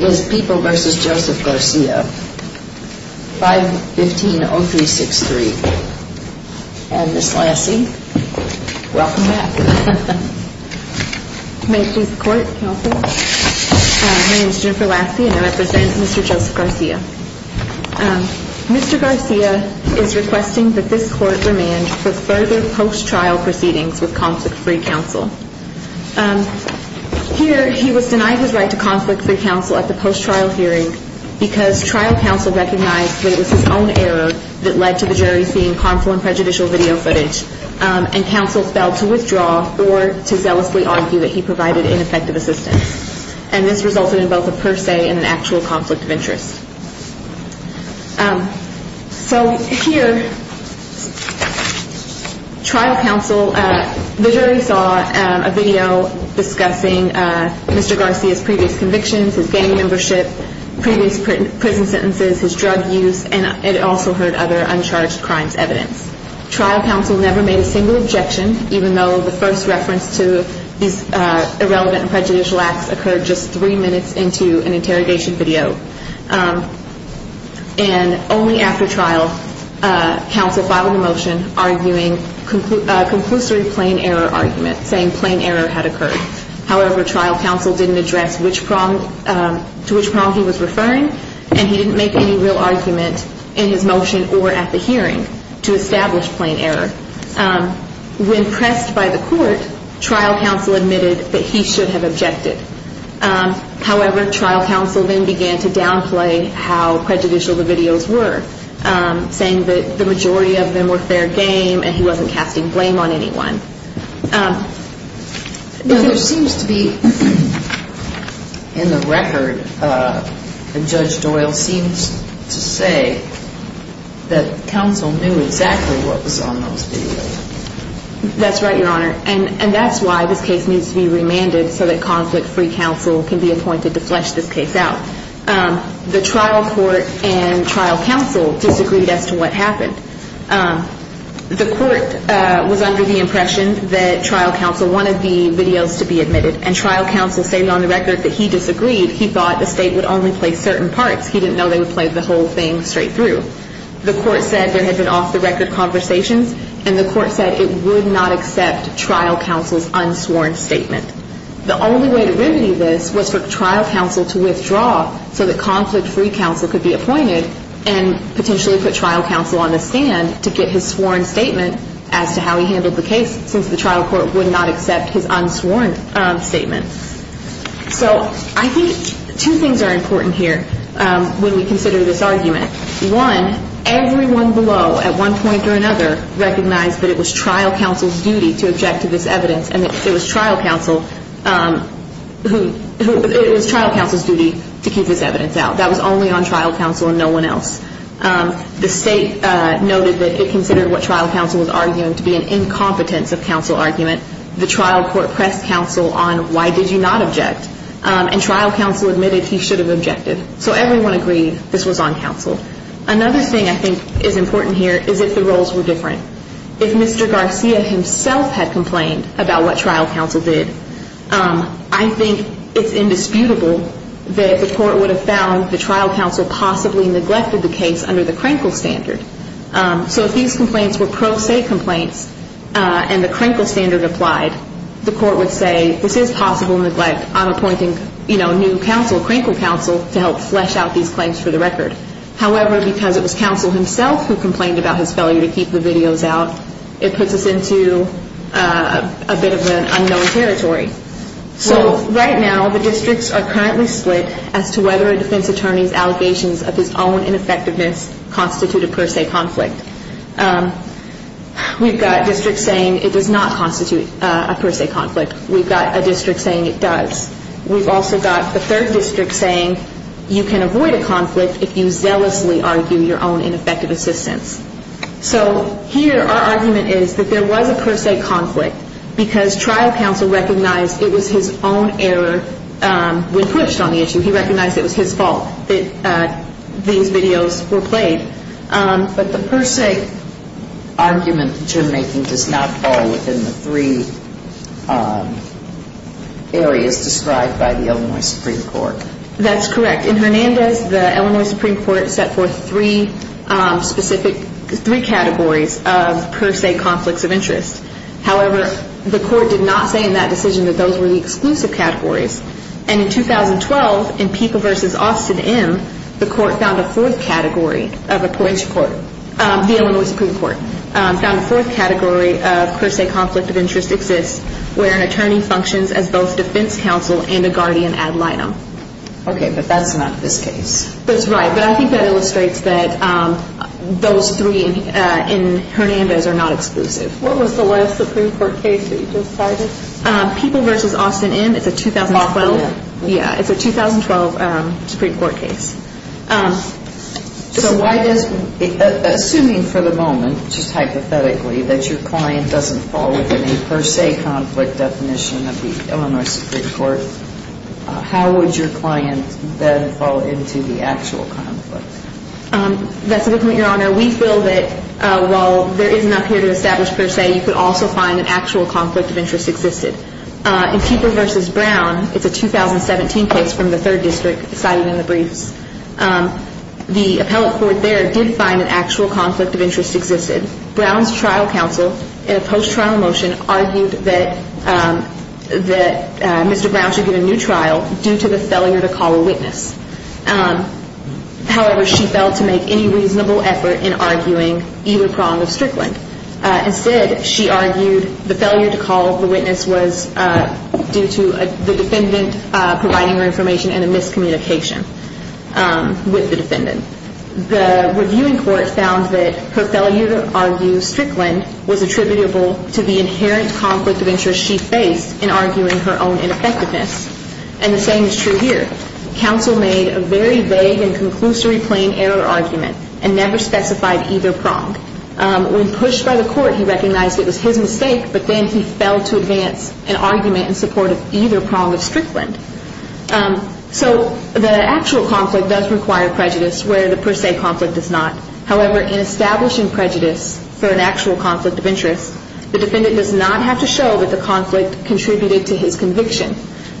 is People v. Joseph Garcia, 515-0363. And Ms. Lassie, welcome back. May it please the Court, Counsel. My name is Jennifer Lassie and I represent Mr. Joseph Garcia. Mr. Garcia is requesting that this Court remand for further post-trial proceedings with Conflict-Free Counsel. Here, he was denied his right to Conflict-Free Counsel at the post-trial hearing because trial counsel recognized that it was his own error that led to the jury seeing harmful and prejudicial video footage and counsel failed to withdraw or to zealously argue that he provided ineffective assistance. And this resulted in both a per se and an actual conflict of interest. So here, trial counsel, the jury saw a video discussing Mr. Garcia's previous convictions, his gang membership, previous prison sentences, his drug use, and it also heard other uncharged crimes evidence. Trial counsel never made a single objection, even though the first reference to these irrelevant and prejudicial acts occurred just three minutes into an interrogation video. And only after trial, counsel filed a motion arguing a conclusory plain error argument, saying plain error had occurred. However, trial counsel didn't address to which prong he was referring and he didn't make any real argument in his motion or at the hearing to establish plain error. When pressed by the court, trial counsel admitted that he should have objected. However, trial counsel then began to downplay how prejudicial the videos were, saying that the majority of them were fair game and he wasn't casting blame on anyone. Now, there seems to be, in the record, Judge Doyle seems to say that counsel knew exactly what was on those videos. That's right, Your Honor. And that's why this case needs to be remanded so that conflict-free counsel can be appointed to flesh this case out. The trial court and trial counsel disagreed as to what happened. The court was under the impression that trial counsel wanted the videos to be admitted, and trial counsel stated on the record that he disagreed. He thought the state would only play certain parts. He didn't know they would play the whole thing straight through. The court said there had been off-the-record conversations, and the court said it would not accept trial counsel's unsworn statement. The only way to remedy this was for trial counsel to withdraw so that conflict-free counsel could be appointed and potentially put trial counsel on the stand to get his sworn statement as to how he handled the case, since the trial court would not accept his unsworn statement. So I think two things are important here when we consider this argument. One, everyone below, at one point or another, recognized that it was trial counsel's duty to object to this evidence and that it was trial counsel's duty to keep this evidence out. That was only on trial counsel and no one else. The state noted that it considered what trial counsel was arguing to be an incompetence of counsel argument. The trial court pressed counsel on why did you not object, and trial counsel admitted he should have objected. So everyone agreed this was on counsel. Another thing I think is important here is if the roles were different. If Mr. Garcia himself had complained about what trial counsel did, I think it's indisputable that the court would have found the trial counsel possibly neglected the case under the Crankle standard. So if these complaints were pro se complaints and the Crankle standard applied, the court would say this is possible neglect. I'm appointing, you know, new counsel, Crankle counsel, to help flesh out these claims for the record. However, because it was counsel himself who complained about his failure to keep the videos out, it puts us into a bit of an unknown territory. So right now the districts are currently split as to whether a defense attorney's allegations of his own ineffectiveness constitute a per se conflict. We've got districts saying it does not constitute a per se conflict. We've got a district saying it does. We've also got the third district saying you can avoid a conflict if you zealously argue your own ineffective assistance. So here our argument is that there was a per se conflict because trial counsel recognized it was his own error when pushed on the issue. He recognized it was his fault that these videos were played. But the per se argument that you're making does not fall within the three areas described by the Illinois Supreme Court. That's correct. In Hernandez, the Illinois Supreme Court set forth three specific categories of per se conflicts of interest. However, the court did not say in that decision that those were the exclusive categories. And in 2012, in PIPA v. Austin M., the court found a fourth category of a per se conflict of interest exists where an attorney functions as both defense counsel and a guardian ad litem. Okay, but that's not this case. That's right. But I think that illustrates that those three in Hernandez are not exclusive. What was the last Supreme Court case that you decided? PIPA v. Austin M. It's a 2012 Supreme Court case. So assuming for the moment, just hypothetically, that your client doesn't fall within a per se conflict definition of the Illinois Supreme Court, how would your client then fall into the actual conflict? That's a good point, Your Honor. We feel that while there is enough here to establish per se, you could also find an actual conflict of interest existed. In PIPA v. Brown, it's a 2017 case from the third district cited in the briefs. The appellate court there did find an actual conflict of interest existed. Brown's trial counsel in a post-trial motion argued that Mr. Brown should get a new trial due to the failure to call a witness. However, she failed to make any reasonable effort in arguing either prong of Strickland. Instead, she argued the failure to call the witness was due to the defendant providing her information and a miscommunication with the defendant. The reviewing court found that her failure to argue Strickland was attributable to the inherent conflict of interest she faced in arguing her own ineffectiveness. And the same is true here. Counsel made a very vague and conclusory plain error argument and never specified either prong. When pushed by the court, he recognized it was his mistake, but then he failed to advance an argument in support of either prong of Strickland. So the actual conflict does require prejudice where the per se conflict does not. However, in establishing prejudice for an actual conflict of interest, the defendant does not have to show that the conflict contributed to his conviction,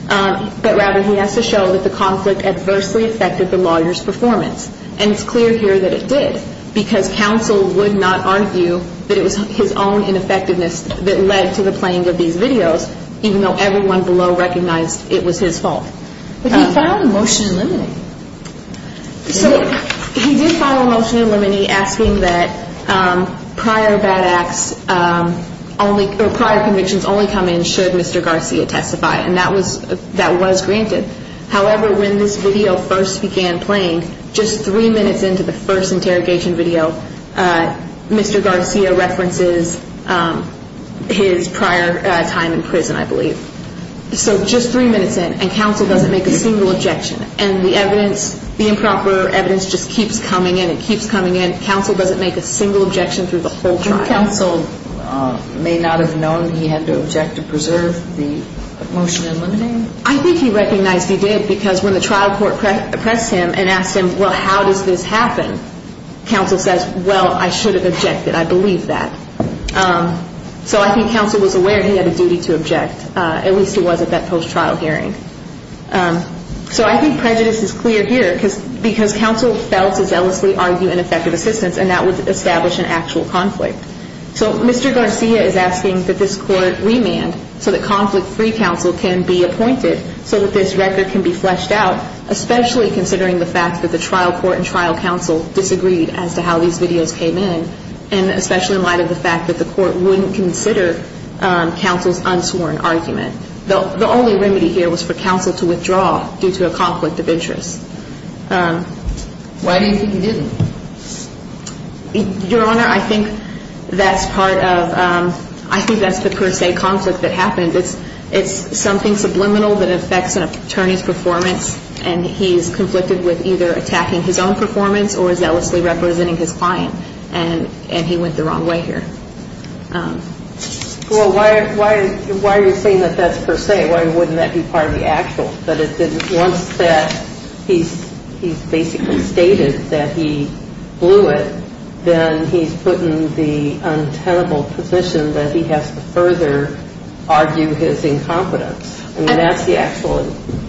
but rather he has to show that the conflict adversely affected the lawyer's performance. And it's clear here that it did because counsel would not argue that it was his own ineffectiveness that led to the playing of these videos, even though everyone below recognized it was his fault. But he filed a motion eliminating. So he did file a motion eliminating asking that prior bad acts or prior convictions only come in should Mr. Garcia testify. And that was granted. However, when this video first began playing, just three minutes into the first interrogation video, Mr. Garcia references his prior time in prison, I believe. So just three minutes in, and counsel doesn't make a single objection. And the evidence, the improper evidence just keeps coming in. It keeps coming in. Counsel doesn't make a single objection through the whole trial. Counsel may not have known he had to object to preserve the motion eliminating? I think he recognized he did because when the trial court pressed him and asked him, well, how does this happen? Counsel says, well, I should have objected. I believe that. So I think counsel was aware he had a duty to object. At least he was at that post-trial hearing. So I think prejudice is clear here because counsel failed to zealously argue ineffective assistance, and that would establish an actual conflict. So Mr. Garcia is asking that this court remand so that conflict-free counsel can be appointed so that this record can be fleshed out, especially considering the fact that the trial court and trial counsel disagreed as to how these videos came in, and especially in light of the fact that the court wouldn't consider counsel's unsworn argument. The only remedy here was for counsel to withdraw due to a conflict of interest. Why do you think he didn't? Your Honor, I think that's part of ‑‑ I think that's the per se conflict that happened. It's something subliminal that affects an attorney's performance, and he's conflicted with either attacking his own performance or zealously representing his client, and he went the wrong way here. Well, why are you saying that that's per se? Why wouldn't that be part of the actual? Once that he's basically stated that he blew it, then he's put in the untenable position that he has to further argue his incompetence. I mean, that's the actual ‑‑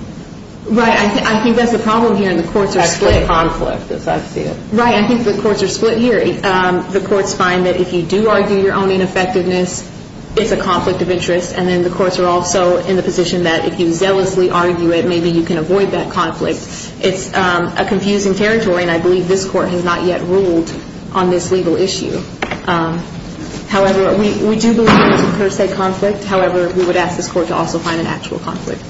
Right. I think that's the problem here, and the courts are split. That's the conflict, as I see it. Right. I think the courts are split here. The courts find that if you do argue your own ineffectiveness, it's a conflict of interest, and then the courts are also in the position that if you zealously argue it, maybe you can avoid that conflict. It's a confusing territory, and I believe this court has not yet ruled on this legal issue. However, we do believe it's a per se conflict. However, we would ask this court to also find an actual conflict.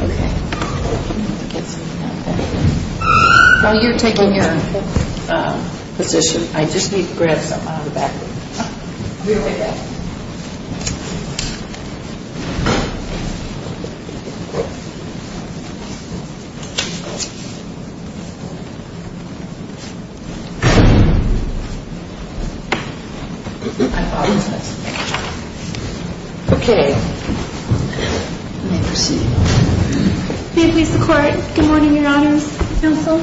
Okay. I'm going to get something out of that. While you're taking your position, I just need to grab something out of the back of this. You're going to take that? I apologize. Okay. May I proceed? May it please the Court. Good morning, Your Honors. Counsel?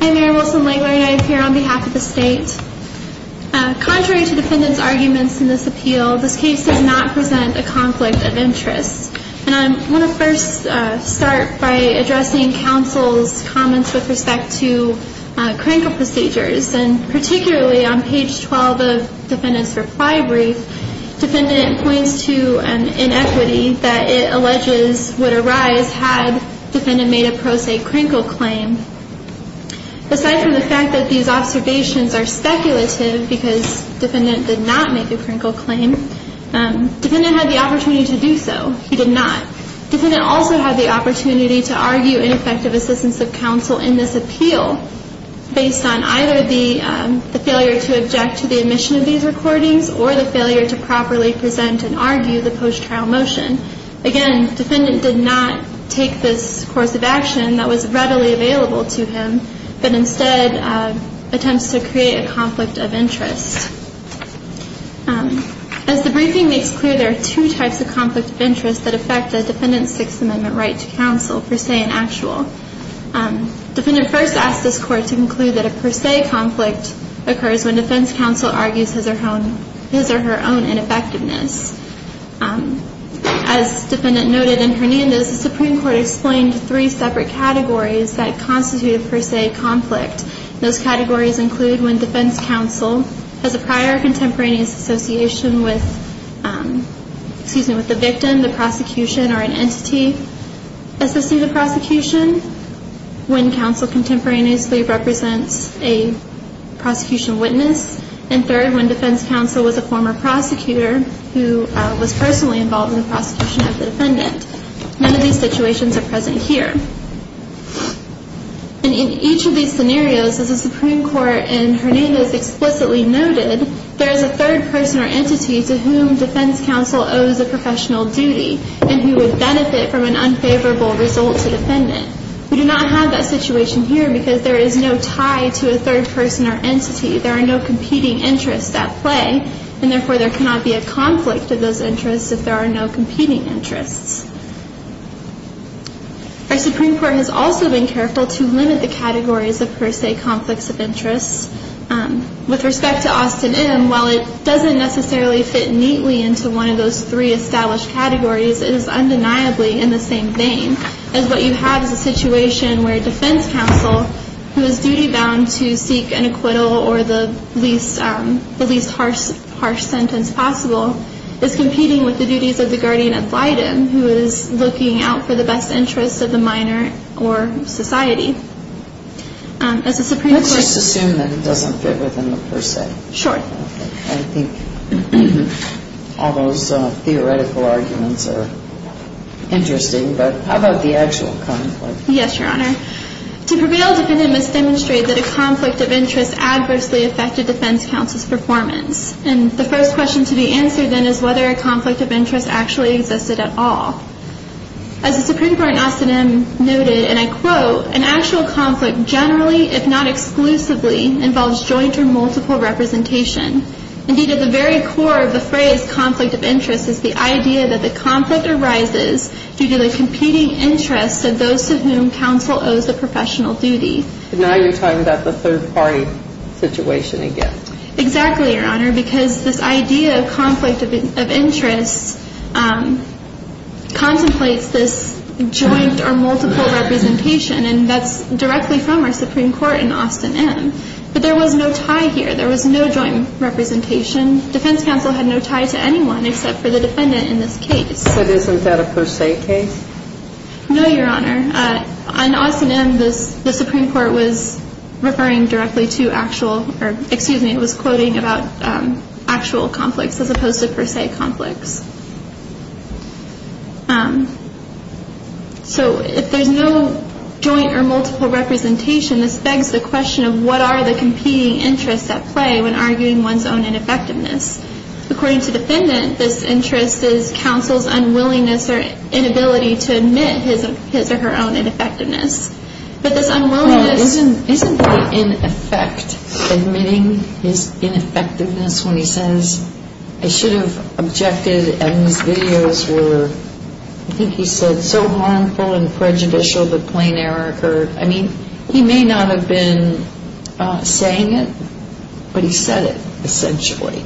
I'm Mary Wilson-Langler, and I appear on behalf of the State. Contrary to defendants' arguments in this appeal, this case does not present a conflict of interest. And I want to first start by addressing counsel's comments with respect to crankle procedures, and particularly on page 12 of defendant's reply brief, defendant points to an inequity that it alleges would arise had defendant made a pro se crankle claim. Aside from the fact that these observations are speculative because defendant did not make a crankle claim, defendant had the opportunity to do so. He did not. Defendant also had the opportunity to argue ineffective assistance of counsel in this appeal based on either the failure to object to the admission of these recordings or the failure to properly present and argue the post-trial motion. Again, defendant did not take this course of action that was readily available to him, As the briefing makes clear, there are two types of conflict of interest that affect a defendant's Sixth Amendment right to counsel, per se and actual. Defendant first asked this Court to conclude that a per se conflict occurs when defense counsel argues his or her own ineffectiveness. As defendant noted in Hernandez, the Supreme Court explained three separate categories that constitute a per se conflict. Those categories include when defense counsel has a prior contemporaneous association with the victim, the prosecution, or an entity assisting the prosecution, when counsel contemporaneously represents a prosecution witness, and third, when defense counsel was a former prosecutor who was personally involved in the prosecution of the defendant. None of these situations are present here. And in each of these scenarios, as the Supreme Court in Hernandez explicitly noted, there is a third person or entity to whom defense counsel owes a professional duty and who would benefit from an unfavorable result to defendant. We do not have that situation here because there is no tie to a third person or entity. There are no competing interests at play, and therefore there cannot be a conflict of those interests if there are no competing interests. Our Supreme Court has also been careful to limit the categories of per se conflicts of interests. With respect to Austin M., while it doesn't necessarily fit neatly into one of those three established categories, it is undeniably in the same vein, as what you have is a situation where defense counsel, who is duty-bound to seek an acquittal or the least harsh sentence possible, is competing with the duties of the guardian ad litem, who is looking out for the best interests of the minor or society. As the Supreme Court ---- Let's just assume that it doesn't fit within the per se. Sure. I think all those theoretical arguments are interesting, but how about the actual conflict? Yes, Your Honor. To prevail, defendant must demonstrate that a conflict of interest adversely affected defense counsel's performance. And the first question to be answered then is whether a conflict of interest actually existed at all. As the Supreme Court in Austin M. noted, and I quote, an actual conflict generally, if not exclusively, involves joint or multiple representation. Indeed, at the very core of the phrase conflict of interest is the idea that the conflict arises due to the competing interests of those to whom counsel owes the professional duty. And now you're talking about the third-party situation again. Exactly, Your Honor. Because this idea of conflict of interest contemplates this joint or multiple representation. And that's directly from our Supreme Court in Austin M. But there was no tie here. There was no joint representation. Defense counsel had no tie to anyone except for the defendant in this case. But isn't that a per se case? No, Your Honor. On Austin M., the Supreme Court was referring directly to actual or, excuse me, it was quoting about actual conflicts as opposed to per se conflicts. So if there's no joint or multiple representation, this begs the question of what are the competing interests at play when arguing one's own ineffectiveness. According to the defendant, this interest is counsel's unwillingness or inability to admit his or her own ineffectiveness. But this unwillingness... Well, isn't that in effect admitting his ineffectiveness when he says, I should have objected and these videos were, I think he said, so harmful and prejudicial the plain error occurred. I mean, he may not have been saying it, but he said it essentially.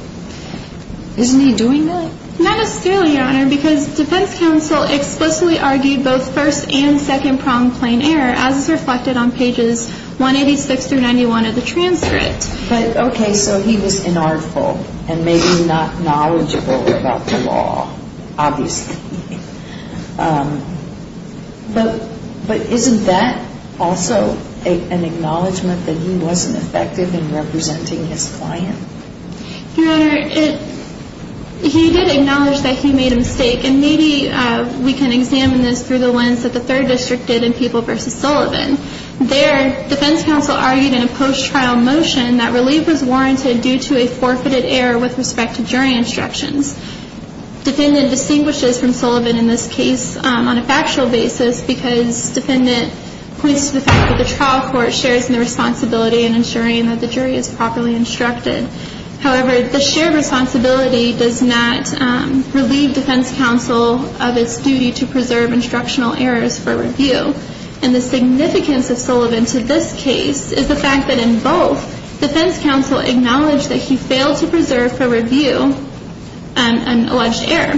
Isn't he doing that? Not necessarily, Your Honor, because defense counsel explicitly argued both first and second problem plain error as is reflected on pages 186 through 91 of the transcript. But, okay, so he was inartful and maybe not knowledgeable about the law, obviously. But isn't that also an acknowledgment that he wasn't effective in representing his client? Your Honor, he did acknowledge that he made a mistake, and maybe we can examine this through the lens that the third district did in People v. Sullivan. There, defense counsel argued in a post-trial motion that relief was warranted due to a forfeited error with respect to jury instructions. Defendant distinguishes from Sullivan in this case on a factual basis because defendant points to the fact that the trial court shares in the responsibility in ensuring that the jury is properly instructed. However, the shared responsibility does not relieve defense counsel of its duty to preserve instructional errors for review. And the significance of Sullivan to this case is the fact that in both, defense counsel acknowledged that he failed to preserve for review an alleged error.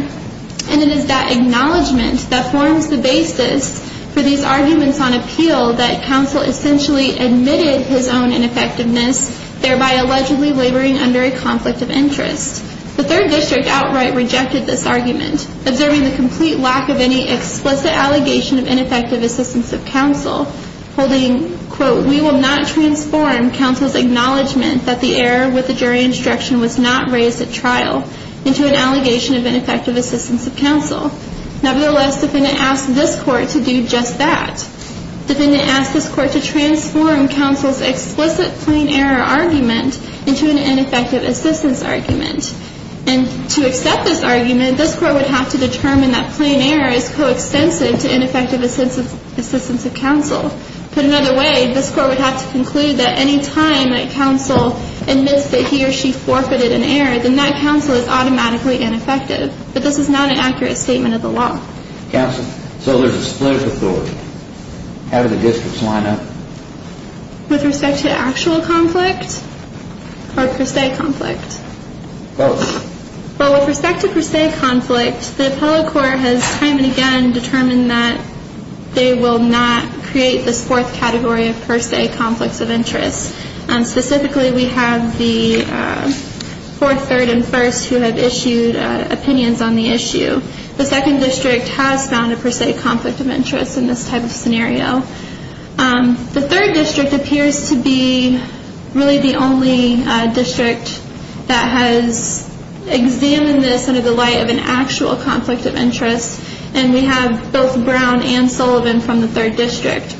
And it is that acknowledgment that forms the basis for these arguments on appeal that counsel essentially admitted his own ineffectiveness, thereby allegedly laboring under a conflict of interest. The third district outright rejected this argument, observing the complete lack of any explicit allegation of ineffective assistance of counsel, holding, quote, we will not transform counsel's acknowledgment that the error with the jury instruction was not raised at trial into an allegation of ineffective assistance of counsel. Nevertheless, defendant asked this court to do just that. Defendant asked this court to transform counsel's explicit plain error argument And to accept this argument, this court would have to determine that plain error is coextensive to ineffective assistance of counsel. Put another way, this court would have to conclude that any time that counsel admits that he or she forfeited an error, then that counsel is automatically ineffective. But this is not an accurate statement of the law. Counsel, so there's a split of authority. How do the districts line up? With respect to actual conflict or per se conflict? Both. Well, with respect to per se conflict, the appellate court has time and again determined that they will not create this fourth category of per se conflicts of interest. Specifically, we have the fourth, third, and first who have issued opinions on the issue. The second district has found a per se conflict of interest in this type of scenario. The third district appears to be really the only district that has examined this under the light of an actual conflict of interest. And we have both Brown and Sullivan from the third district.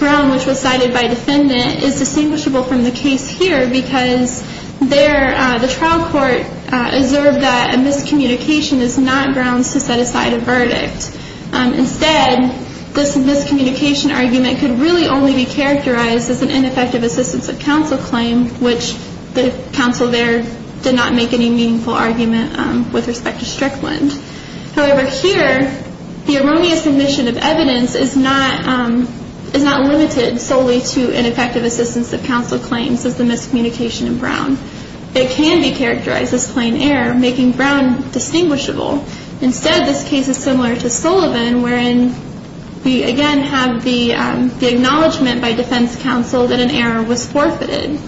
Brown, which was cited by defendant, is distinguishable from the case here because the trial court observed that a miscommunication is not grounds to set aside a verdict. Instead, this miscommunication argument could really only be characterized as an ineffective assistance of counsel claim, which the counsel there did not make any meaningful argument with respect to Strickland. However, here, the erroneous submission of evidence is not limited solely to ineffective assistance of counsel claims as the miscommunication in Brown. It can be characterized as plain error, making Brown distinguishable. Instead, this case is similar to Sullivan, wherein we again have the acknowledgement by defense counsel that an error was forfeited.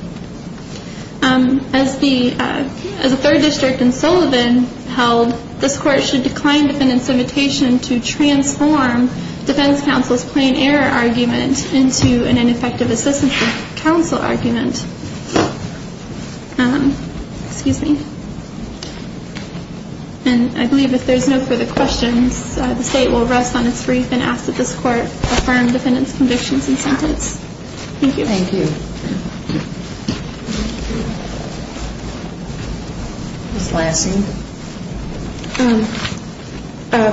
As the third district in Sullivan held, this court should decline defendant's invitation to transform defense counsel's plain error argument into an ineffective assistance of counsel argument. Excuse me. And I believe if there's no further questions, the state will rest on its brief and ask that this court affirm defendant's convictions and sentence. Thank you. Thank you. Ms. Lansing.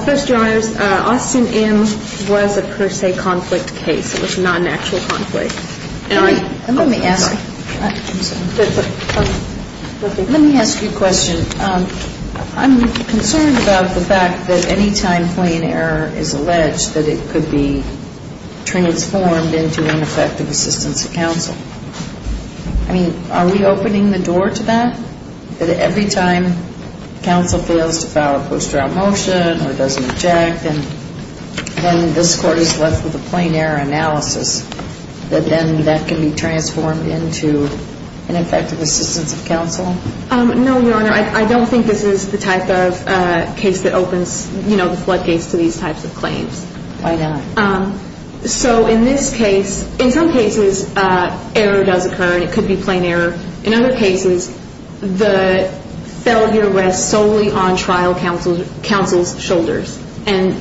First, Your Honors, Austin M. was a per se conflict case. It was not an actual conflict. Let me ask you a question. I'm concerned about the fact that any time plain error is alleged, that it could be transformed into ineffective assistance of counsel. I mean, are we opening the door to that, that every time counsel fails to file a post-trial motion or doesn't object, and then this court is left with a plain error analysis, that then that can be transformed into ineffective assistance of counsel? No, Your Honor. I don't think this is the type of case that opens, you know, the floodgates to these types of claims. Why not? So in this case, in some cases, error does occur, and it could be plain error. In other cases, the failure rests solely on trial counsel's shoulders. And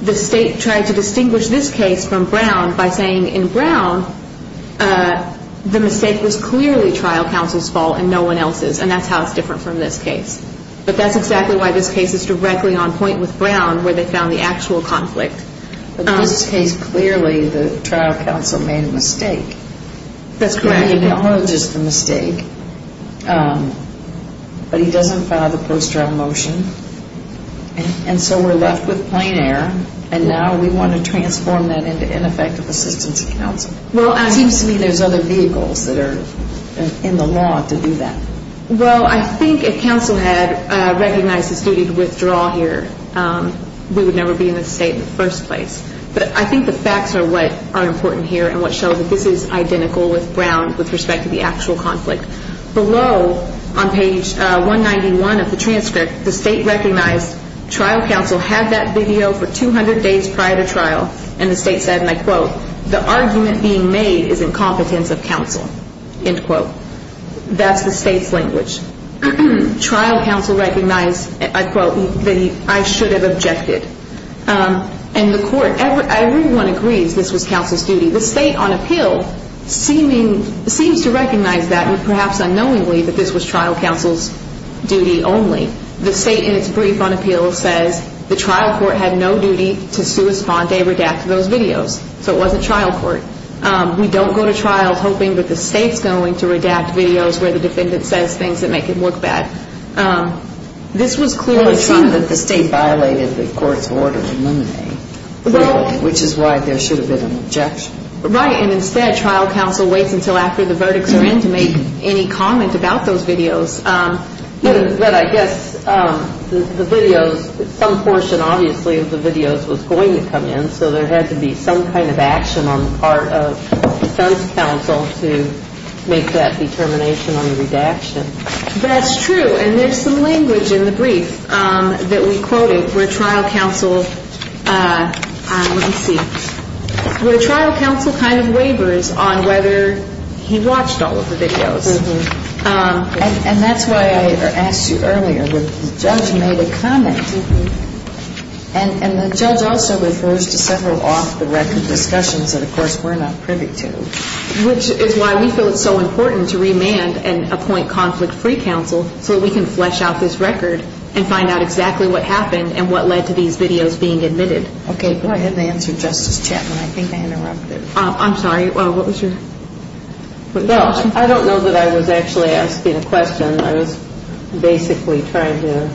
the state tried to distinguish this case from Brown by saying, in Brown, the mistake was clearly trial counsel's fault and no one else's, and that's how it's different from this case. But that's exactly why this case is directly on point with Brown, where they found the actual conflict. But in this case, clearly the trial counsel made a mistake. That's correct. Brown acknowledges the mistake, but he doesn't file the post-trial motion, and so we're left with plain error, and now we want to transform that into ineffective assistance of counsel. It seems to me there's other vehicles that are in the law to do that. Well, I think if counsel had recognized his duty to withdraw here, we would never be in this state in the first place. But I think the facts are what are important here and what show that this is identical with Brown with respect to the actual conflict. Below on page 191 of the transcript, the state recognized trial counsel had that video for 200 days prior to trial, and the state said, and I quote, the argument being made is incompetence of counsel, end quote. That's the state's language. Trial counsel recognized, I quote, that I should have objected. And the court, everyone agrees this was counsel's duty. The state on appeal seems to recognize that, and perhaps unknowingly that this was trial counsel's duty only. The state in its brief on appeal says the trial court had no duty to suspend or redact those videos, so it wasn't trial court. We don't go to trials hoping that the state's going to redact videos where the defendant says things that make it look bad. This was clearly seen that the state violated the court's order to eliminate, which is why there should have been an objection. Right, and instead trial counsel waits until after the verdicts are in to make any comment about those videos. But I guess the videos, some portion obviously of the videos was going to come in, so there had to be some kind of action on the part of defense counsel to make that determination on the redaction. That's true, and there's some language in the brief that we quoted where trial counsel kind of waivers on whether he watched all of the videos. And that's why I asked you earlier, the judge made a comment, and the judge also refers to several off-the-record discussions that of course we're not privy to, which is why we feel it's so important to remand and appoint conflict-free counsel so we can flesh out this record and find out exactly what happened and what led to these videos being admitted. Okay, go ahead and answer Justice Chapman. I think I interrupted. I'm sorry, what was your question? Well, I don't know that I was actually asking a question. I was basically trying to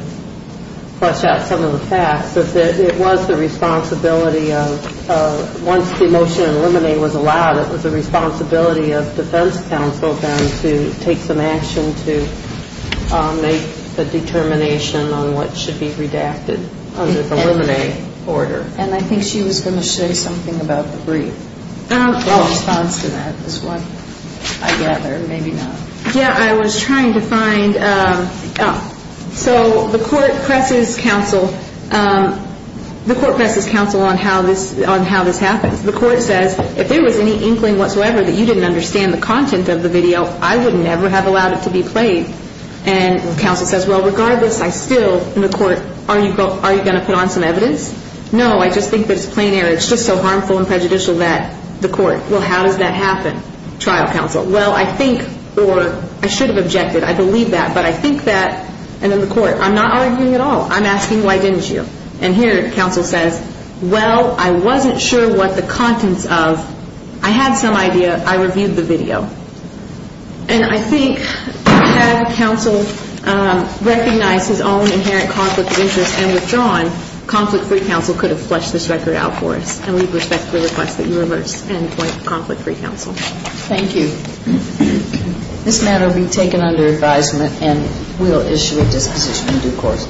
flesh out some of the facts. It was the responsibility of, once the motion to eliminate was allowed, it was the responsibility of defense counsel then to take some action to make the determination on what should be redacted under the eliminate order. And I think she was going to say something about the brief in response to that as well, I gather. Maybe not. Yeah, I was trying to find so the court presses counsel on how this happens. The court says, if there was any inkling whatsoever that you didn't understand the content of the video, I would never have allowed it to be played. And counsel says, well, regardless, I still, in the court, are you going to put on some evidence? No, I just think that it's plain error. It's just so harmful and prejudicial that the court, well, how does that happen? Trial counsel, well, I think or I should have objected. I believe that. But I think that, and in the court, I'm not arguing at all. I'm asking why didn't you. And here counsel says, well, I wasn't sure what the contents of. I had some idea. I reviewed the video. And I think had counsel recognized his own inherent conflict of interest and withdrawn, conflict-free counsel could have fleshed this record out for us and leave respect to the request that you reverse and appoint conflict-free counsel. Thank you. This matter will be taken under advisement and we'll issue a disposition in due course.